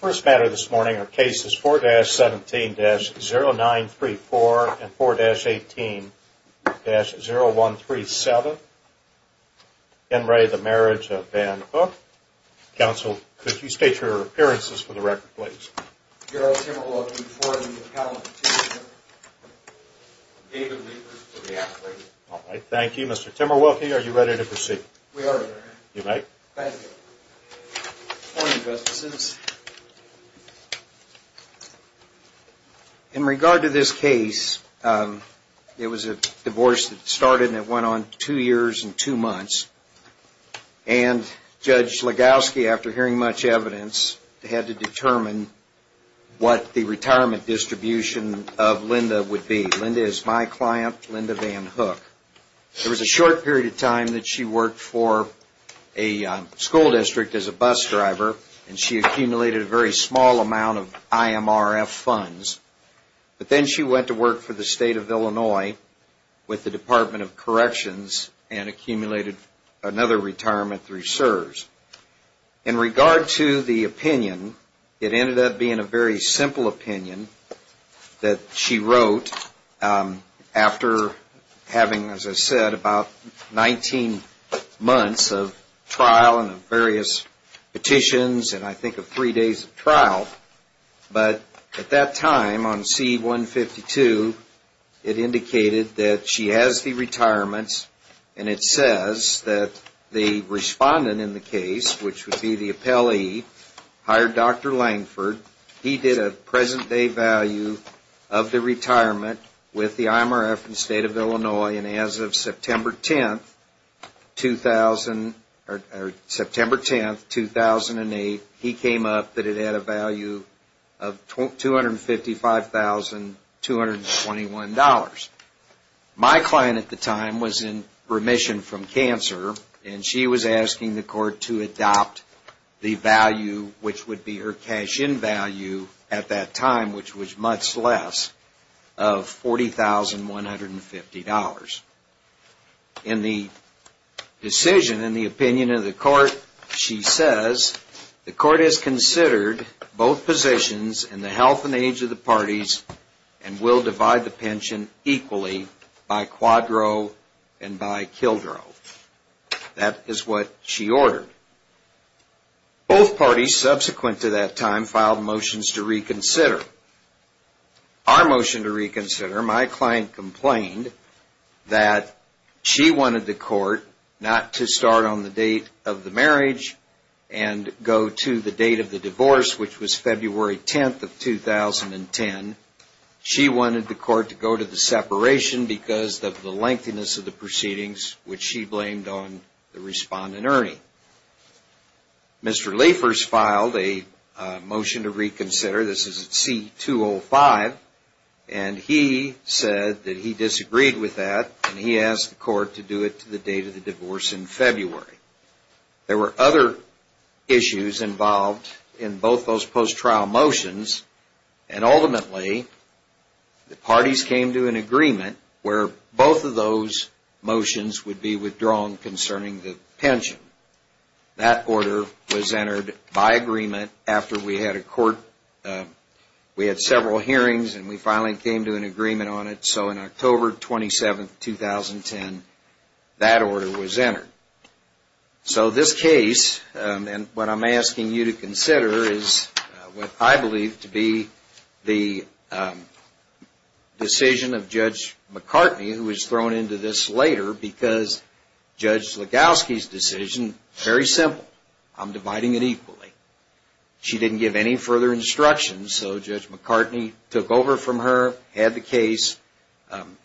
First matter this morning are cases 4-17-0934 and 4-18-0137. Ken Ray, the Marriage of Van Hook. Counsel, could you state your appearances for the record, please? Gerald Timmerwolke for the Appellant to the Court. David Liefers for the Appellant. All right, thank you. Mr. Timmerwolke, are you ready to proceed? We are, Your Honor. You may. Thank you. Good morning, Justices. In regard to this case, it was a divorce that started and went on two years and two months. And Judge Legowski, after hearing much evidence, had to determine what the retirement distribution of Linda would be. Linda is my client, Linda Van Hook. There was a short period of time that she worked for a school district as a bus driver, and she accumulated a very small amount of IMRF funds. But then she went to work for the State of Illinois with the Department of Corrections and accumulated another retirement through CSRS. In regard to the opinion, it ended up being a very simple opinion that she wrote after having, as I said, about 19 months of trial and various petitions and I think of three days of trial. But at that time, on C-152, it indicated that she has the retirements, and it says that the respondent in the case, which would be the appellee, hired Dr. Langford. He did a present-day value of the retirement with the IMRF and State of Illinois, and as of September 10, 2008, he came up that it had a value of $255,221. My client at the time was in remission from cancer, and she was asking the court to adopt the value, which would be her cash-in value at that time, which was much less, of $40,150. In the decision, in the opinion of the court, she says, the court has considered both positions in the health and age of the parties and will divide the pension equally by quadro and by childro. That is what she ordered. Both parties subsequent to that time filed motions to reconsider. Our motion to reconsider, my client complained that she wanted the court not to start on the date of the marriage and go to the date of the divorce, which was February 10, 2010. She wanted the court to go to the separation because of the lengthiness of the proceedings, which she blamed on the respondent, Ernie. Mr. Liefers filed a motion to reconsider. This is at C-205, and he said that he disagreed with that, and he asked the court to do it to the date of the divorce in February. There were other issues involved in both those post-trial motions, and ultimately the parties came to an agreement where both of those motions would be withdrawn concerning the pension. That order was entered by agreement after we had several hearings and we finally came to an agreement on it. On October 27, 2010, that order was entered. This case, and what I'm asking you to consider, is what I believe to be the decision of Judge McCartney, who was thrown into this later because Judge Legowski's decision was very simple. I'm dividing it equally. She didn't give any further instructions, so Judge McCartney took over from her, had the case,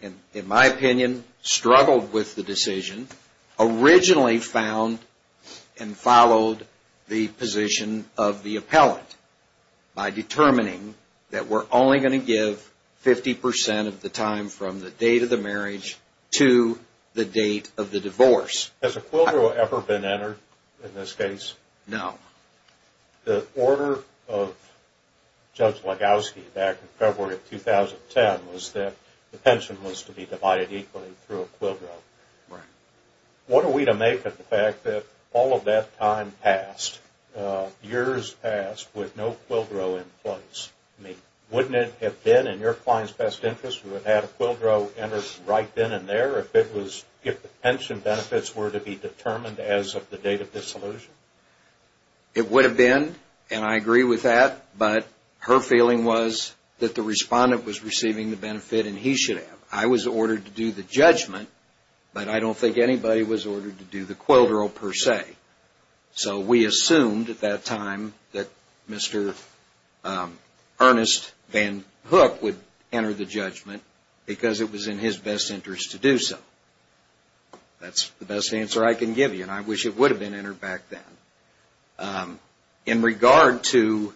and in my opinion struggled with the decision, originally found and followed the position of the appellant by determining that we're only going to give 50% of the time from the date of the marriage to the date of the divorce. Has a quill drill ever been entered in this case? No. The order of Judge Legowski back in February of 2010 was that the pension was to be divided equally through a quill drill. Right. What are we to make of the fact that all of that time passed, years passed with no quill drill in place? Wouldn't it have been in your client's best interest to have had a quill drill entered right then and there if the pension benefits were to be determined as of the date of dissolution? It would have been, and I agree with that, but her feeling was that the respondent was receiving the benefit and he should have. I was ordered to do the judgment, but I don't think anybody was ordered to do the quill drill per se. So we assumed at that time that Mr. Ernest Van Hook would enter the judgment because it was in his best interest to do so. That's the best answer I can give you, and I wish it would have been entered back then. In regard to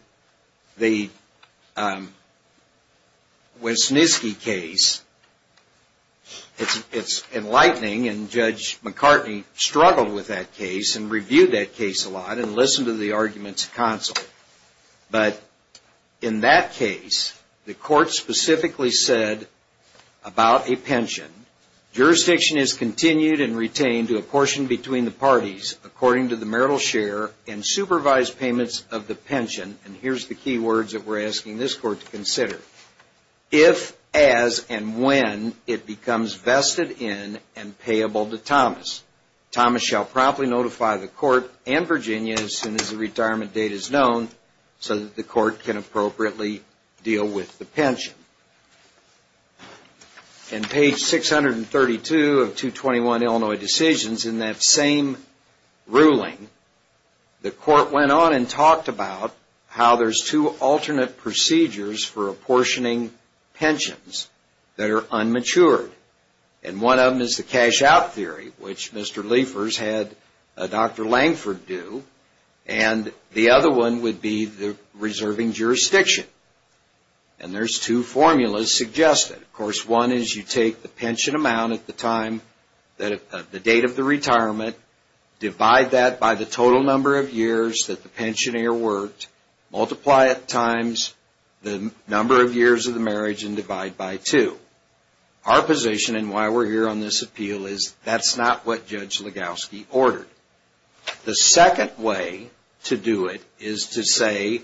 the Wisniewski case, it's enlightening, and Judge McCartney struggled with that case and reviewed that case a lot and listened to the arguments constantly. But in that case, the court specifically said about a pension, jurisdiction is continued and retained to a portion between the parties according to the marital share and supervised payments of the pension, and here's the key words that we're asking this court to consider, if, as, and when it becomes vested in and payable to Thomas. Thomas shall promptly notify the court and Virginia as soon as the retirement date is known so that the court can appropriately deal with the pension. In page 632 of 221 Illinois Decisions, in that same ruling, the court went on and talked about how there's two alternate procedures for apportioning pensions that are unmatured, and one of them is the cash-out theory, which Mr. Liefers had Dr. Langford do, and the other one would be the reserving jurisdiction, and there's two formulas suggested. Of course, one is you take the pension amount at the date of the retirement, divide that by the total number of years that the pensioner worked, multiply it times the number of years of the marriage, and divide by two. Our position, and why we're here on this appeal, is that's not what Judge Legowski ordered. The second way to do it is to say,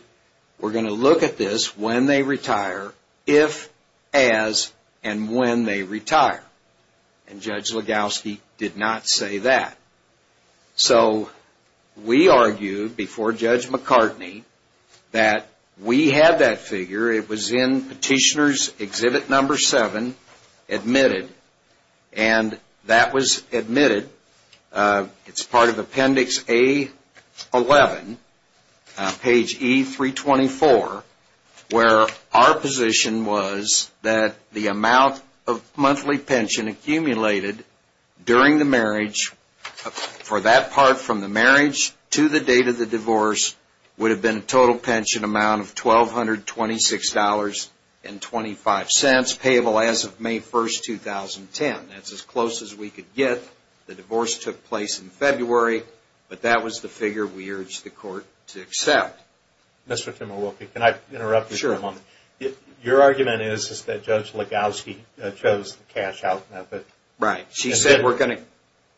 we're going to look at this when they retire, if, as, and when they retire, and Judge Legowski did not say that. So we argued before Judge McCartney that we had that figure. It was in Petitioner's Exhibit No. 7, Admitted, and that was admitted. It's part of Appendix A-11, page E-324, where our position was that the amount of monthly pension accumulated during the marriage, for that part from the marriage to the date of the divorce, would have been a total pension amount of $1,226.25, payable as of May 1, 2010. That's as close as we could get. The divorce took place in February, but that was the figure we urged the court to accept. Mr. Timurwoki, can I interrupt you for a moment? Sure. Your argument is that Judge Legowski chose the cash-out method. Right. She said, we're going to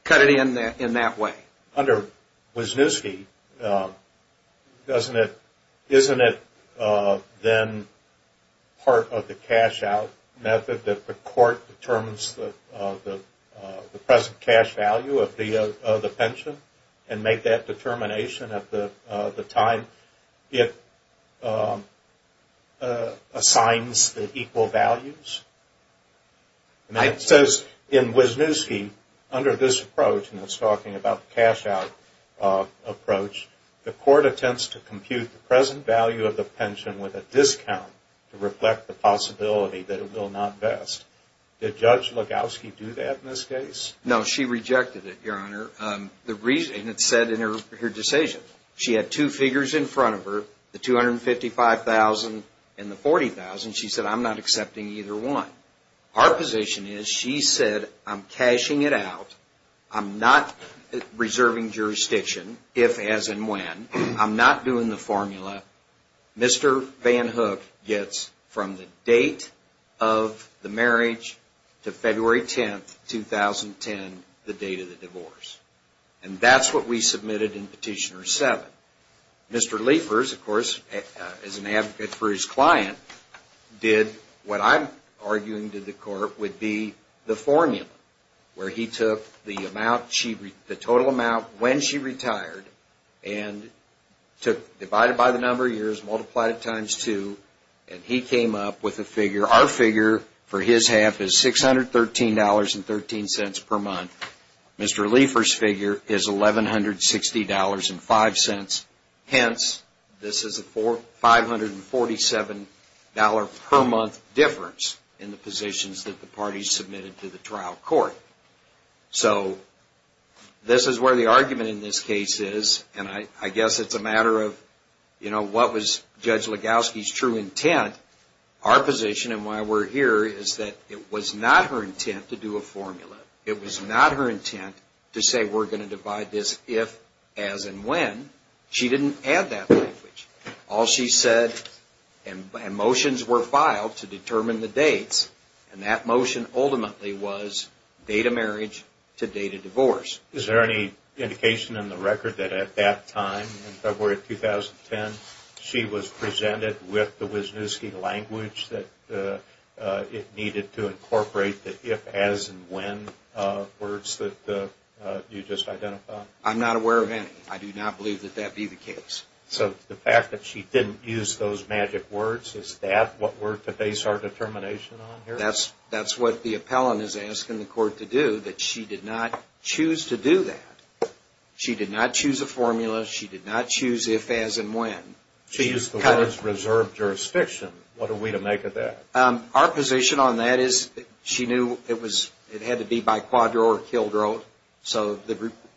cut it in that way. Under Wisniewski, isn't it then part of the cash-out method that the court determines the present cash value of the pension and make that determination at the time it assigns the equal values? It says in Wisniewski, under this approach, and it's talking about the cash-out approach, the court attempts to compute the present value of the pension with a discount to reflect the possibility that it will not vest. Did Judge Legowski do that in this case? No, she rejected it, Your Honor. And it's said in her decision. She had two figures in front of her, the $255,000 and the $40,000. She said, I'm not accepting either one. Our position is, she said, I'm cashing it out. I'm not reserving jurisdiction, if, as, and when. I'm not doing the formula. Mr. Van Hook gets from the date of the marriage to February 10, 2010, the date of the divorce. And that's what we submitted in Petitioner 7. Mr. Liefers, of course, as an advocate for his client, did what I'm arguing to the court would be the formula, where he took the total amount when she retired and divided by the number of years, multiplied it times two, and he came up with a figure. Our figure for his half is $613.13 per month. Mr. Liefers' figure is $1,160.05. Hence, this is a $547 per month difference in the positions that the parties submitted to the trial court. So this is where the argument in this case is, and I guess it's a matter of, you know, what was Judge Legowski's true intent. Our position, and why we're here, is that it was not her intent to do a formula. It was not her intent to say we're going to divide this if, as, and when. She didn't add that language. All she said, and motions were filed to determine the dates, and that motion ultimately was date of marriage to date of divorce. Is there any indication in the record that at that time, in February 2010, she was presented with the Wisniewski language that it needed to incorporate the if, as, and when words that you just identified? I'm not aware of any. I do not believe that that be the case. So the fact that she didn't use those magic words, is that what we're to base our determination on here? That's what the appellant is asking the court to do, that she did not choose to do that. She did not choose a formula. She did not choose if, as, and when. She used the words reserved jurisdiction. What are we to make of that? Our position on that is she knew it had to be by quadro or quildro. So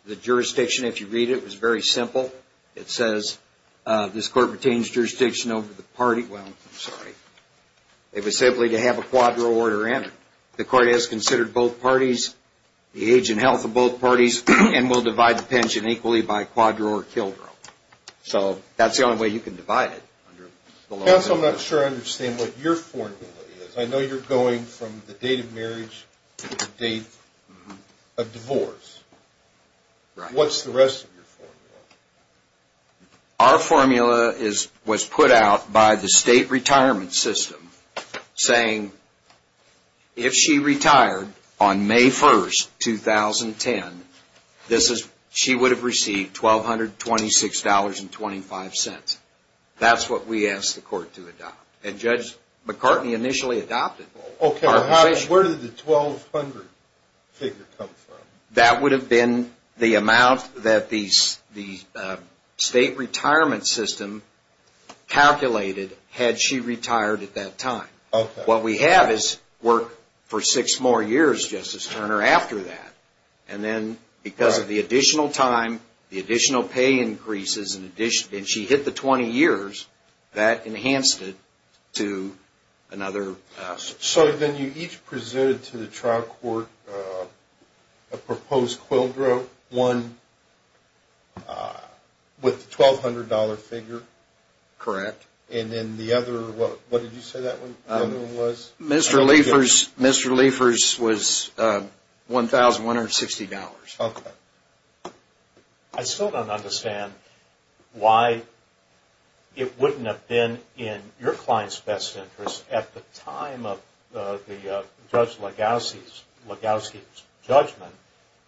the jurisdiction, if you read it, was very simple. It says this court retains jurisdiction over the party. Well, I'm sorry. It was simply to have a quadro order in. The court has considered both parties, the age and health of both parties, and will divide the pension equally by quadro or quildro. So that's the only way you can divide it. Counsel, I'm not sure I understand what your formula is. I know you're going from the date of marriage to the date of divorce. What's the rest of your formula? Our formula was put out by the state retirement system saying if she retired on May 1st, 2010, she would have received $1,226.25. That's what we asked the court to adopt. And Judge McCartney initially adopted our position. Okay. Where did the 1,200 figure come from? That would have been the amount that the state retirement system calculated had she retired at that time. What we have is work for six more years, Justice Turner, after that. And then because of the additional time, the additional pay increases, and she hit the 20 years, that enhanced it to another. So then you each presented to the trial court a proposed quildro, one with the $1,200 figure. Correct. And then the other, what did you say that one was? Mr. Leifers was $1,160. Okay. I still don't understand why it wouldn't have been in your client's best interest at the time of Judge Legowski's judgment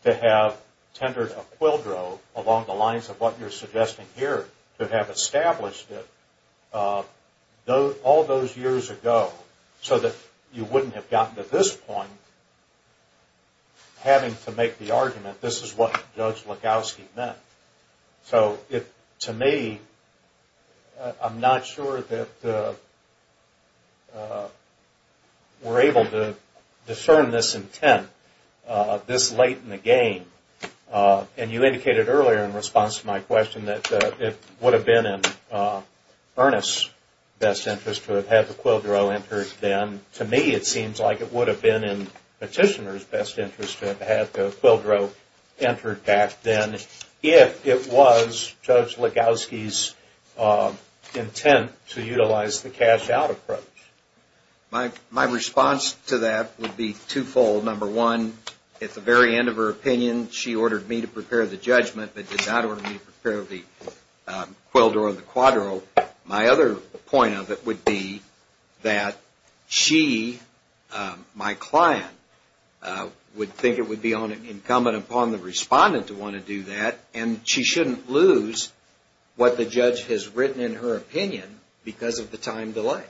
to have tendered a quildro along the lines of what you're suggesting here, to have established it all those years ago so that you wouldn't have gotten to this point, having to make the argument this is what Judge Legowski meant. So to me, I'm not sure that we're able to discern this intent this late in the game. And you indicated earlier in response to my question that it would have been in Ernest's best interest to have the quildro entered then. And to me, it seems like it would have been in Petitioner's best interest to have the quildro entered back then if it was Judge Legowski's intent to utilize the cash-out approach. My response to that would be twofold. Number one, at the very end of her opinion, she ordered me to prepare the judgment, but did not order me to prepare the quildro or the quadro. My other point of it would be that she, my client, would think it would be incumbent upon the respondent to want to do that, and she shouldn't lose what the judge has written in her opinion because of the time delay.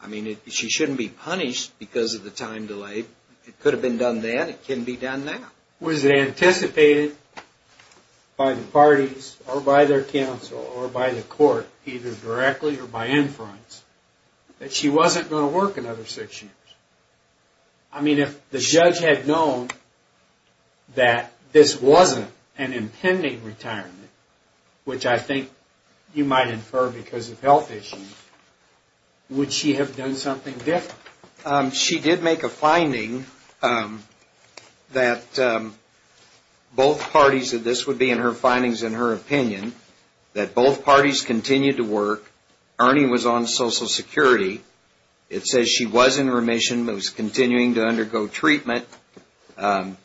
I mean, she shouldn't be punished because of the time delay. It could have been done then. It can be done now. Was it anticipated by the parties or by their counsel or by the court, either directly or by inference, that she wasn't going to work another six years? I mean, if the judge had known that this wasn't an impending retirement, which I think you might infer because of health issues, would she have done something different? She did make a finding that both parties, and this would be in her findings and her opinion, that both parties continued to work. Ernie was on Social Security. It says she was in remission. It was continuing to undergo treatment.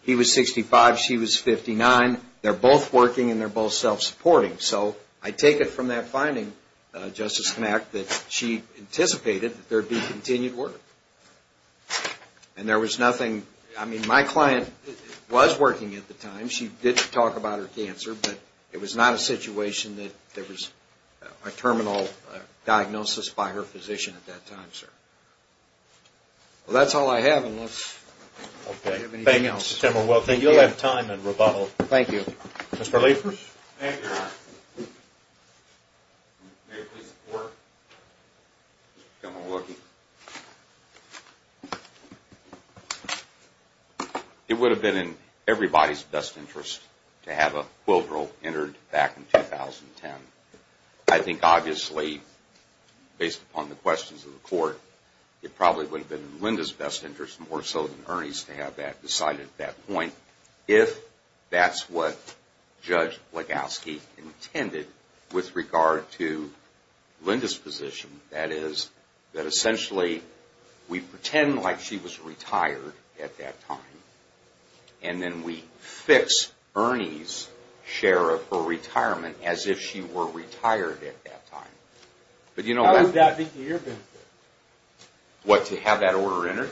He was 65. She was 59. They're both working, and they're both self-supporting. And so I take it from that finding, Justice Knapp, that she anticipated that there would be continued work. And there was nothing. I mean, my client was working at the time. She did talk about her cancer, but it was not a situation that there was a terminal diagnosis by her physician at that time, sir. Well, that's all I have unless you have anything else. Okay. Thanks, Tim. Well, thank you. You'll have time in rebuttal. Thank you. Mr. Liefers? Thank you, Your Honor. May I please report? Come and look. It would have been in everybody's best interest to have a quill drill entered back in 2010. I think obviously, based upon the questions of the court, it probably would have been in Linda's best interest more so than Ernie's to have that decided at that point. If that's what Judge Legowski intended with regard to Linda's position, that is that essentially we pretend like she was retired at that time and then we fix Ernie's share of her retirement as if she were retired at that time. How would that be to your benefit? What, to have that order entered?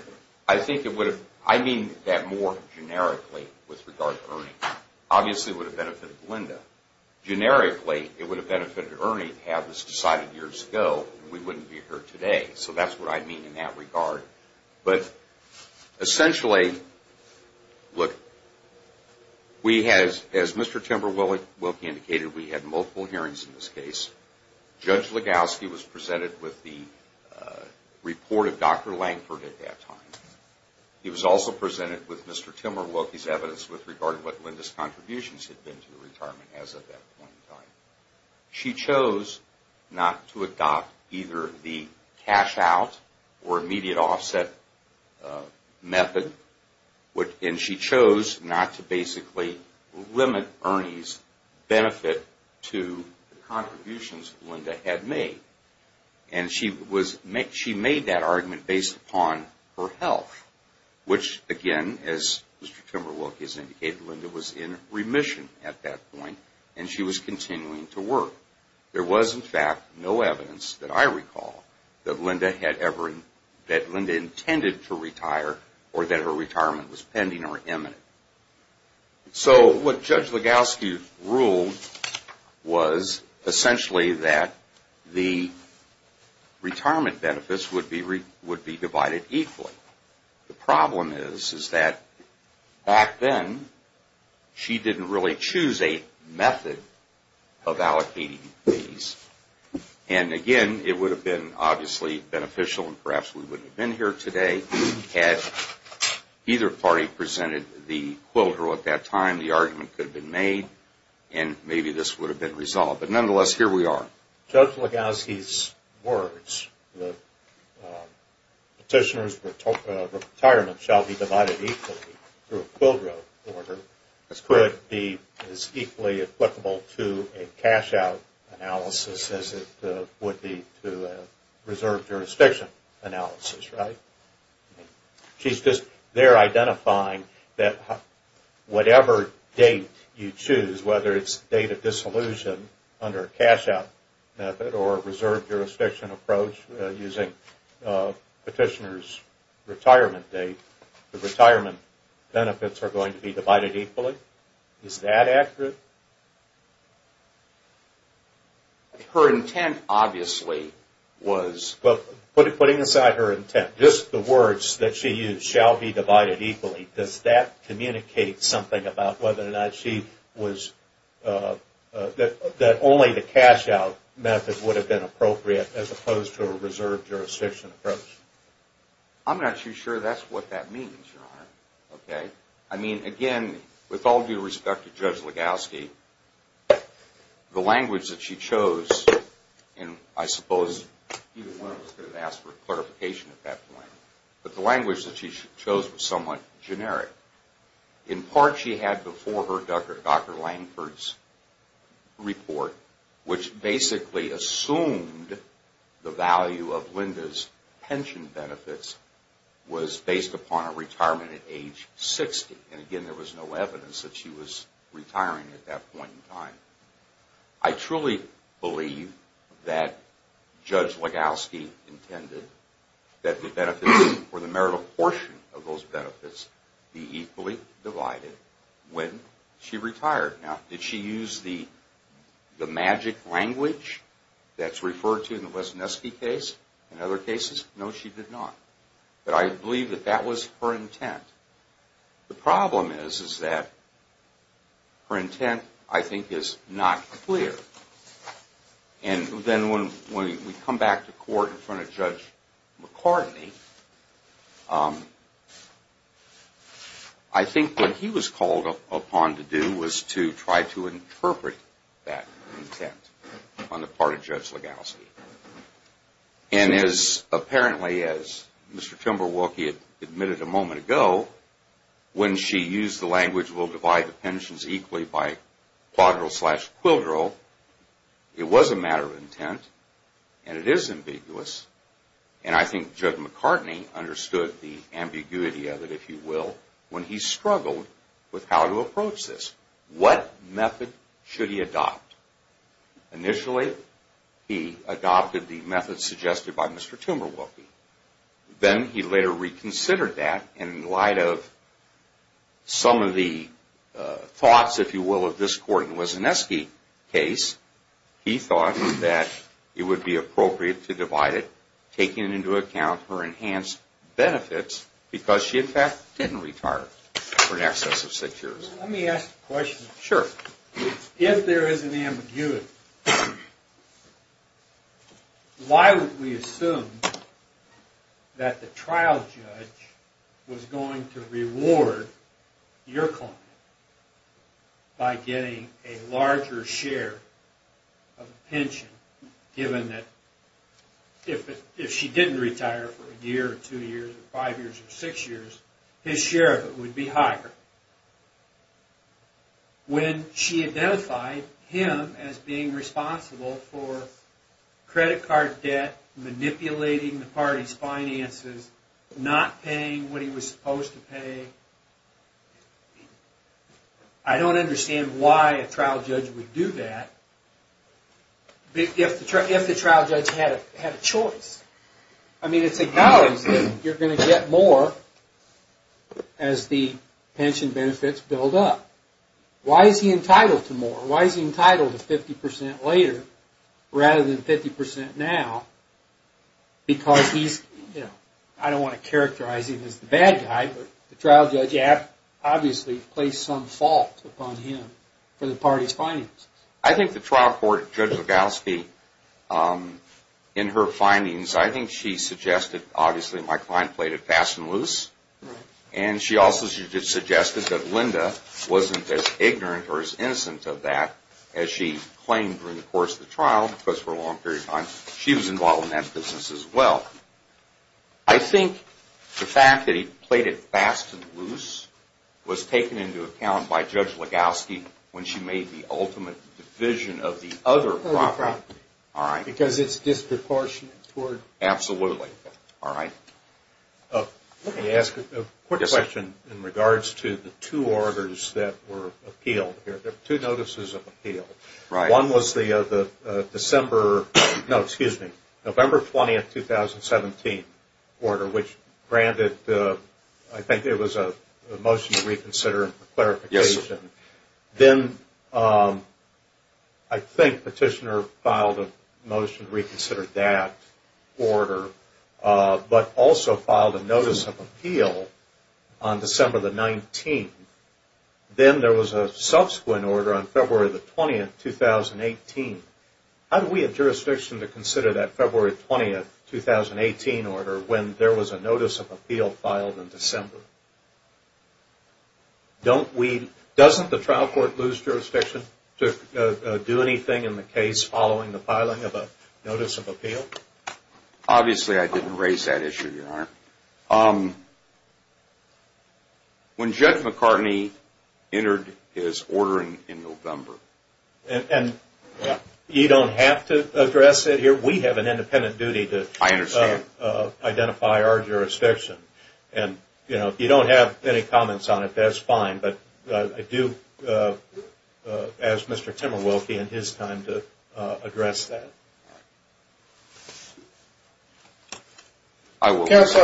I mean that more generically with regard to Ernie. Obviously, it would have benefited Linda. Generically, it would have benefited Ernie to have this decided years ago and we wouldn't be here today. So that's what I mean in that regard. But essentially, look, as Mr. Timberwolke indicated, we had multiple hearings in this case. Judge Legowski was presented with the report of Dr. Langford at that time. He was also presented with Mr. Timberwolke's evidence with regard to what Linda's contributions had been to the retirement as of that point in time. She chose not to adopt either the cash out or immediate offset method and she chose not to basically limit Ernie's benefit to the contributions Linda had made. And she made that argument based upon her health, which again, as Mr. Timberwolke has indicated, Linda was in remission at that point and she was continuing to work. There was, in fact, no evidence that I recall that Linda intended to retire or that her retirement was pending or imminent. So what Judge Legowski ruled was essentially that the retirement benefits would be divided equally. The problem is that back then, she didn't really choose a method of allocating these. And again, it would have been obviously beneficial and perhaps we wouldn't have been here today if we had either party presented the quid pro at that time. The argument could have been made and maybe this would have been resolved. But nonetheless, here we are. Judge Legowski's words, the petitioner's retirement shall be divided equally through a quid pro order, could be as equally applicable to a cash-out analysis as it would be to a reserve jurisdiction analysis, right? She's just there identifying that whatever date you choose, whether it's date of dissolution under a cash-out method or a reserve jurisdiction approach using petitioner's retirement date, the retirement benefits are going to be divided equally? Is that accurate? Her intent, obviously, was... But putting aside her intent, just the words that she used, shall be divided equally, does that communicate something about whether or not she was... that only the cash-out method would have been appropriate as opposed to a reserve jurisdiction approach? I'm not too sure that's what that means, Your Honor. I mean, again, with all due respect to Judge Legowski, the language that she chose, and I suppose even one of us could have asked for clarification at that point, but the language that she chose was somewhat generic. In part, she had before her Dr. Lankford's report, which basically assumed the value of Linda's pension benefits was based upon her retirement at age 60. And again, there was no evidence that she was retiring at that point in time. I truly believe that Judge Legowski intended that the benefits for the marital portion of those benefits be equally divided when she retired. Now, did she use the magic language that's referred to in the Lesneski case and other cases? No, she did not. But I believe that that was her intent. The problem is that her intent, I think, is not clear. And then when we come back to court in front of Judge McCartney, I think what he was called upon to do was to try to interpret that intent on the part of Judge Legowski. And as apparently as Mr. Timberwolke admitted a moment ago, when she used the language, we'll divide the pensions equally by quadril slash quildril, it was a matter of intent and it is ambiguous. And I think Judge McCartney understood the ambiguity of it, if you will, when he struggled with how to approach this. What method should he adopt? Initially, he adopted the method suggested by Mr. Timberwolke. Then he later reconsidered that in light of some of the thoughts, if you will, of this court in the Lesneski case. He thought that it would be appropriate to divide it, taking into account her enhanced benefits because she, in fact, didn't retire for in excess of six years. Let me ask a question. Sure. If there is an ambiguity, why would we assume that the trial judge was going to reward your client by getting a larger share of the pension, given that if she didn't retire for a year or two years or five years or six years, his share of it would be higher? When she identified him as being responsible for credit card debt, manipulating the party's finances, not paying what he was supposed to pay, I don't understand why a trial judge would do that, if the trial judge had a choice. I mean, it's acknowledged that you're going to get more as the pension benefits build up. Why is he entitled to more? Why is he entitled to 50% later rather than 50% now? Because he's, you know, I don't want to characterize him as the bad guy, but the trial judge obviously placed some fault upon him for the party's finances. I think the trial court, Judge Legowski, in her findings, I think she suggested obviously my client played it fast and loose, and she also suggested that Linda wasn't as ignorant or as innocent of that as she claimed during the course of the trial, because for a long period of time, she was involved in that business as well. I think the fact that he played it fast and loose was taken into account by Judge Legowski when she made the ultimate division of the other property. All right. Because it's disproportionate toward... Absolutely. All right. Let me ask a quick question in regards to the two orders that were appealed. There were two notices of appeal. One was the December, no, excuse me, November 20, 2017 order, which granted, I think it was a motion to reconsider and for clarification. Yes, sir. Then I think Petitioner filed a motion to reconsider that order, but also filed a notice of appeal on December the 19th. Then there was a subsequent order on February the 20th, 2018. How do we have jurisdiction to consider that February 20, 2018 order when there was a notice of appeal filed in December? Doesn't the trial court lose jurisdiction to do anything in the case following the filing of a notice of appeal? Obviously, I didn't raise that issue, Your Honor. When Judge McCartney entered his ordering in November... You don't have to address it here. We have an independent duty to identify our jurisdiction. If you don't have any comments on it, that's fine, but I do ask Mr. Timerwilke and his time to address that. Counsel,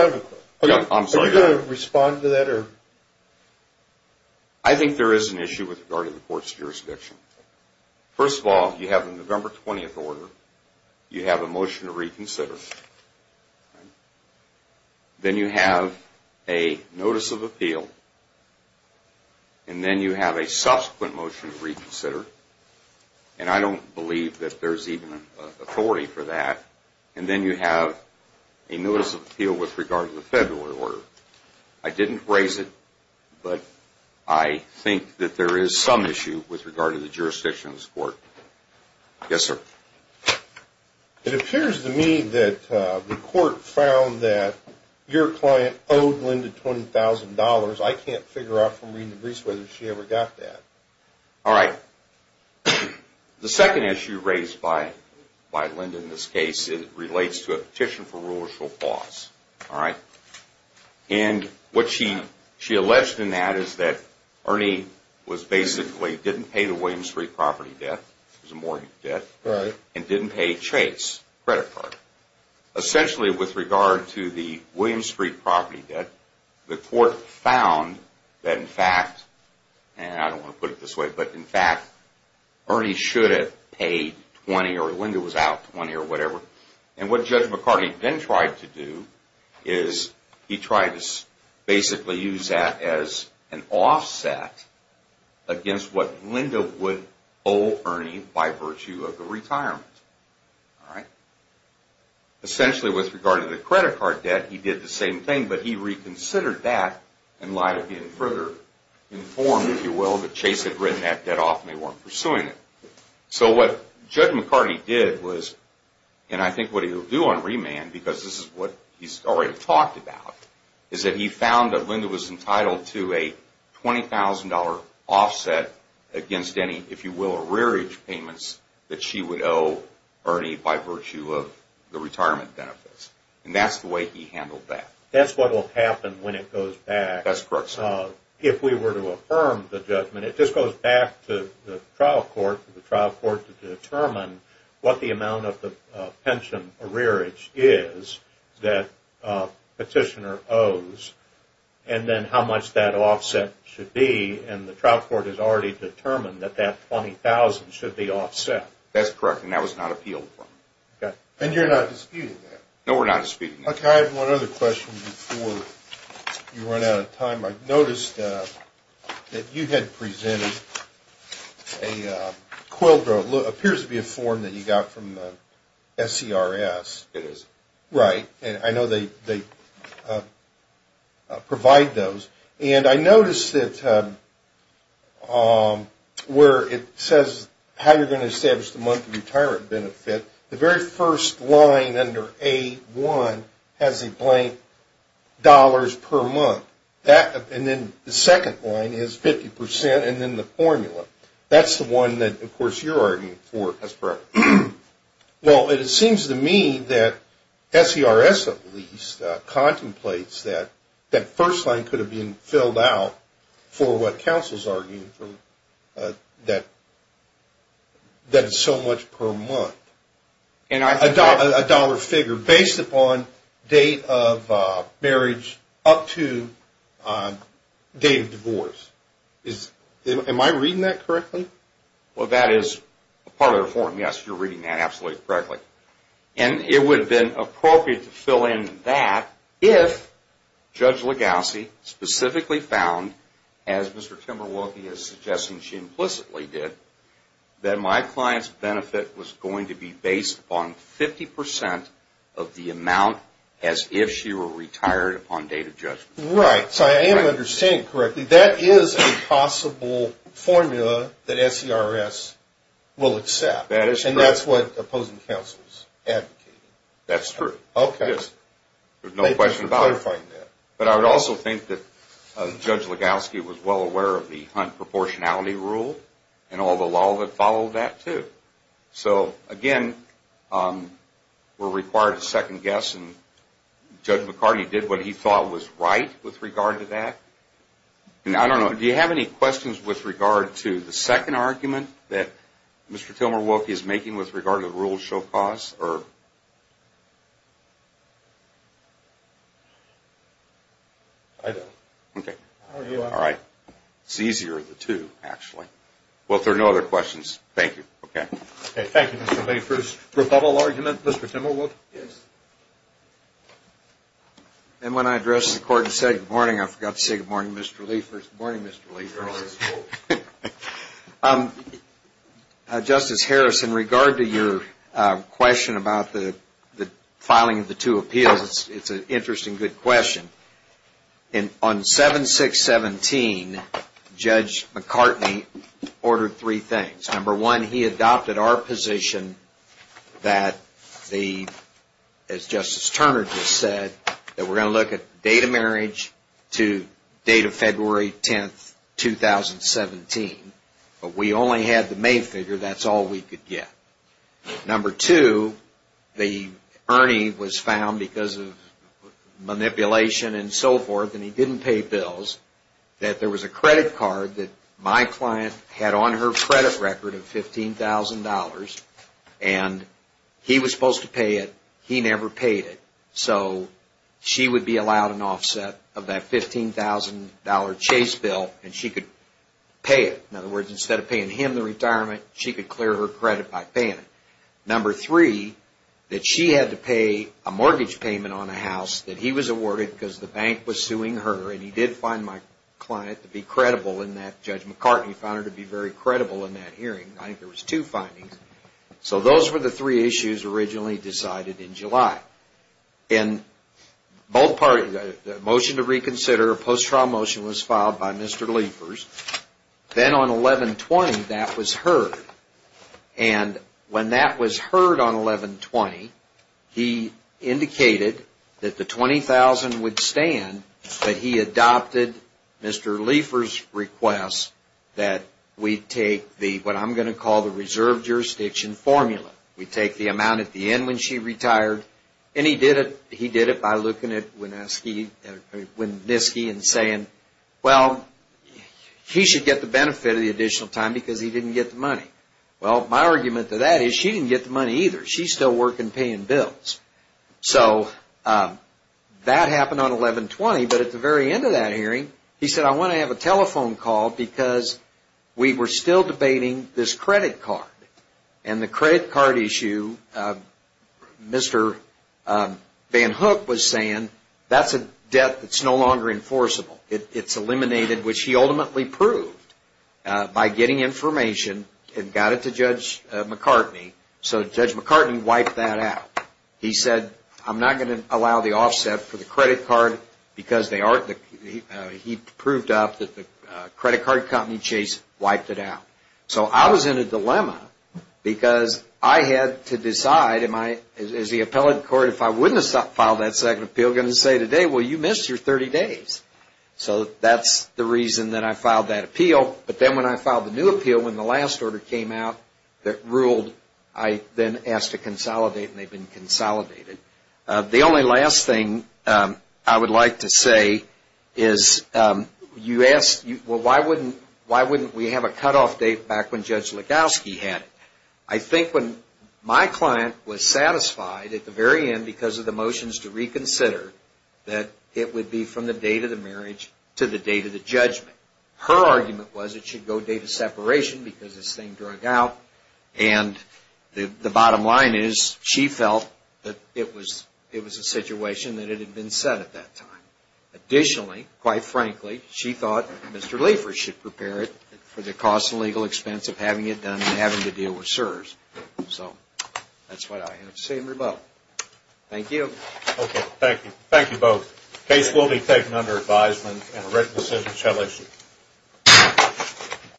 are you going to respond to that? Yes, sir. I think there is an issue with regard to the court's jurisdiction. First of all, you have the November 20th order, you have a motion to reconsider, then you have a notice of appeal, and then you have a subsequent motion to reconsider, and I don't believe that there's even authority for that, and then you have a notice of appeal with regard to the February order. I didn't raise it, but I think that there is some issue with regard to the jurisdiction of this court. Yes, sir. It appears to me that the court found that your client owed Linda $20,000. I can't figure out from reading the briefs whether she ever got that. All right. The second issue raised by Linda in this case relates to a petition for rule or she'll pause. All right. What she alleged in that is that Ernie basically didn't pay the Williams Street property debt, it was a mortgage debt, and didn't pay Chase credit card. Essentially, with regard to the Williams Street property debt, the court found that, in fact, and I don't want to put it this way, but, in fact, Ernie should have paid $20,000 or Linda was out $20,000 or whatever, and what Judge McCarty then tried to do is he tried to basically use that as an offset against what Linda would owe Ernie by virtue of the retirement. All right. Essentially, with regard to the credit card debt, he did the same thing, but he reconsidered that in light of being further informed, if you will, that Chase had written that debt off and they weren't pursuing it. So what Judge McCarty did was, and I think what he'll do on remand, because this is what he's already talked about, is that he found that Linda was entitled to a $20,000 offset against any, if you will, rearage payments that she would owe Ernie by virtue of the retirement benefits, and that's the way he handled that. That's what will happen when it goes back. That's correct, sir. If we were to affirm the judgment, it just goes back to the trial court, to the trial court to determine what the amount of the pension rearage is that petitioner owes and then how much that offset should be, and the trial court has already determined that that $20,000 should be offset. That's correct, and that was not appealed for. Okay. And you're not disputing that? No, we're not disputing that. Okay. I have one other question before you run out of time. I noticed that you had presented a quill drill. It appears to be a form that you got from the SCRS. It is. Right, and I know they provide those, and I noticed that where it says how you're going to establish the monthly retirement benefit, the very first line under A1 has a blank dollars per month, and then the second line is 50% and then the formula. That's the one that, of course, you're arguing for, as far as. Well, it seems to me that SCRS, at least, contemplates that that first line could have been filled out for what counsel is arguing for, that it's so much per month. A dollar figure based upon date of marriage up to date of divorce. Am I reading that correctly? Well, that is part of the form. Yes, you're reading that absolutely correctly, and it would have been appropriate to fill in that if Judge Legassi specifically found, as Mr. Timberwolfy is suggesting she implicitly did, that my client's benefit was going to be based upon 50% of the amount as if she were retired upon date of judgment. Right, so I am understanding correctly. That is a possible formula that SCRS will accept, and that's what opposing counsel is advocating. Okay. There's no question about it. Thank you for clarifying that. But I would also think that Judge Legassi was well aware of the Hunt Proportionality Rule and all the law that followed that, too. So, again, we're required to second-guess, and Judge McCarty did what he thought was right with regard to that. I don't know. Do you have any questions with regard to the second argument that Mr. Timberwolfy is making with regard to the rules show cause? I don't. Okay. All right. It's easier, the two, actually. Well, if there are no other questions, thank you. Okay. Thank you, Mr. Liefers. Rebuttal argument? Mr. Timberwolf? Yes. And when I addressed the court and said, Good morning, I forgot to say good morning, Mr. Liefers. Good morning, Mr. Liefers. Good morning. Good morning, Mr. Liefers. Justice Harris, in regard to your question about the filing of the two appeals, it's an interesting, good question. On 7-6-17, Judge McCartney ordered three things. Number one, he adopted our position that, as Justice Turner just said, that we're going to look at the date of marriage to the date of February 10, 2017. But we only had the main figure. That's all we could get. Number two, Ernie was found because of manipulation and so forth, and he didn't pay bills, that there was a credit card that my client had on her credit record of $15,000, and he was supposed to pay it. He never paid it. So she would be allowed an offset of that $15,000 chase bill, and she could pay it. In other words, instead of paying him the retirement, she could clear her credit by paying it. Number three, that she had to pay a mortgage payment on a house that he was awarded because the bank was suing her, and he did find my client to be credible in that. Judge McCartney found her to be very credible in that hearing. I think there was two findings. So those were the three issues originally decided in July. In both parties, the motion to reconsider, a post-trial motion was filed by Mr. Liefers. Then on 11-20, that was heard, and when that was heard on 11-20, he indicated that the $20,000 would stand, but he adopted Mr. Liefers' request that we take what I'm going to call the reserve jurisdiction formula. We take the amount at the end when she retired, and he did it by looking at Winniski and saying, well, he should get the benefit of the additional time because he didn't get the money. Well, my argument to that is she didn't get the money either. She's still working paying bills. So that happened on 11-20, but at the very end of that hearing, he said, I want to have a telephone call because we were still debating this credit card, and the credit card issue, Mr. Van Hook was saying that's a debt that's no longer enforceable. It's eliminated, which he ultimately proved by getting information and got it to Judge McCartney. So Judge McCartney wiped that out. He said, I'm not going to allow the offset for the credit card because he proved up that the credit card company, Chase, wiped it out. So I was in a dilemma because I had to decide, as the appellate court, if I wouldn't have filed that second appeal, I'm going to say today, well, you missed your 30 days. So that's the reason that I filed that appeal, but then when I filed the new appeal, when the last order came out that ruled, I then asked to consolidate, and they've been consolidated. The only last thing I would like to say is you asked, well, why wouldn't we have a cutoff date back when Judge Legowski had it? I think when my client was satisfied at the very end because of the motions to reconsider that it would be from the date of the marriage to the date of the judgment. Her argument was it should go date of separation because this thing drug out, and the bottom line is she felt that it was a situation that it had been set at that time. Additionally, quite frankly, she thought Mr. Liefers should prepare it for the cost and legal expense of having it done and having to deal with SERS. So that's what I have to say in rebuttal. Thank you. Okay, thank you. Thank you both. The case will be taken under advisement and a written decision shall issue.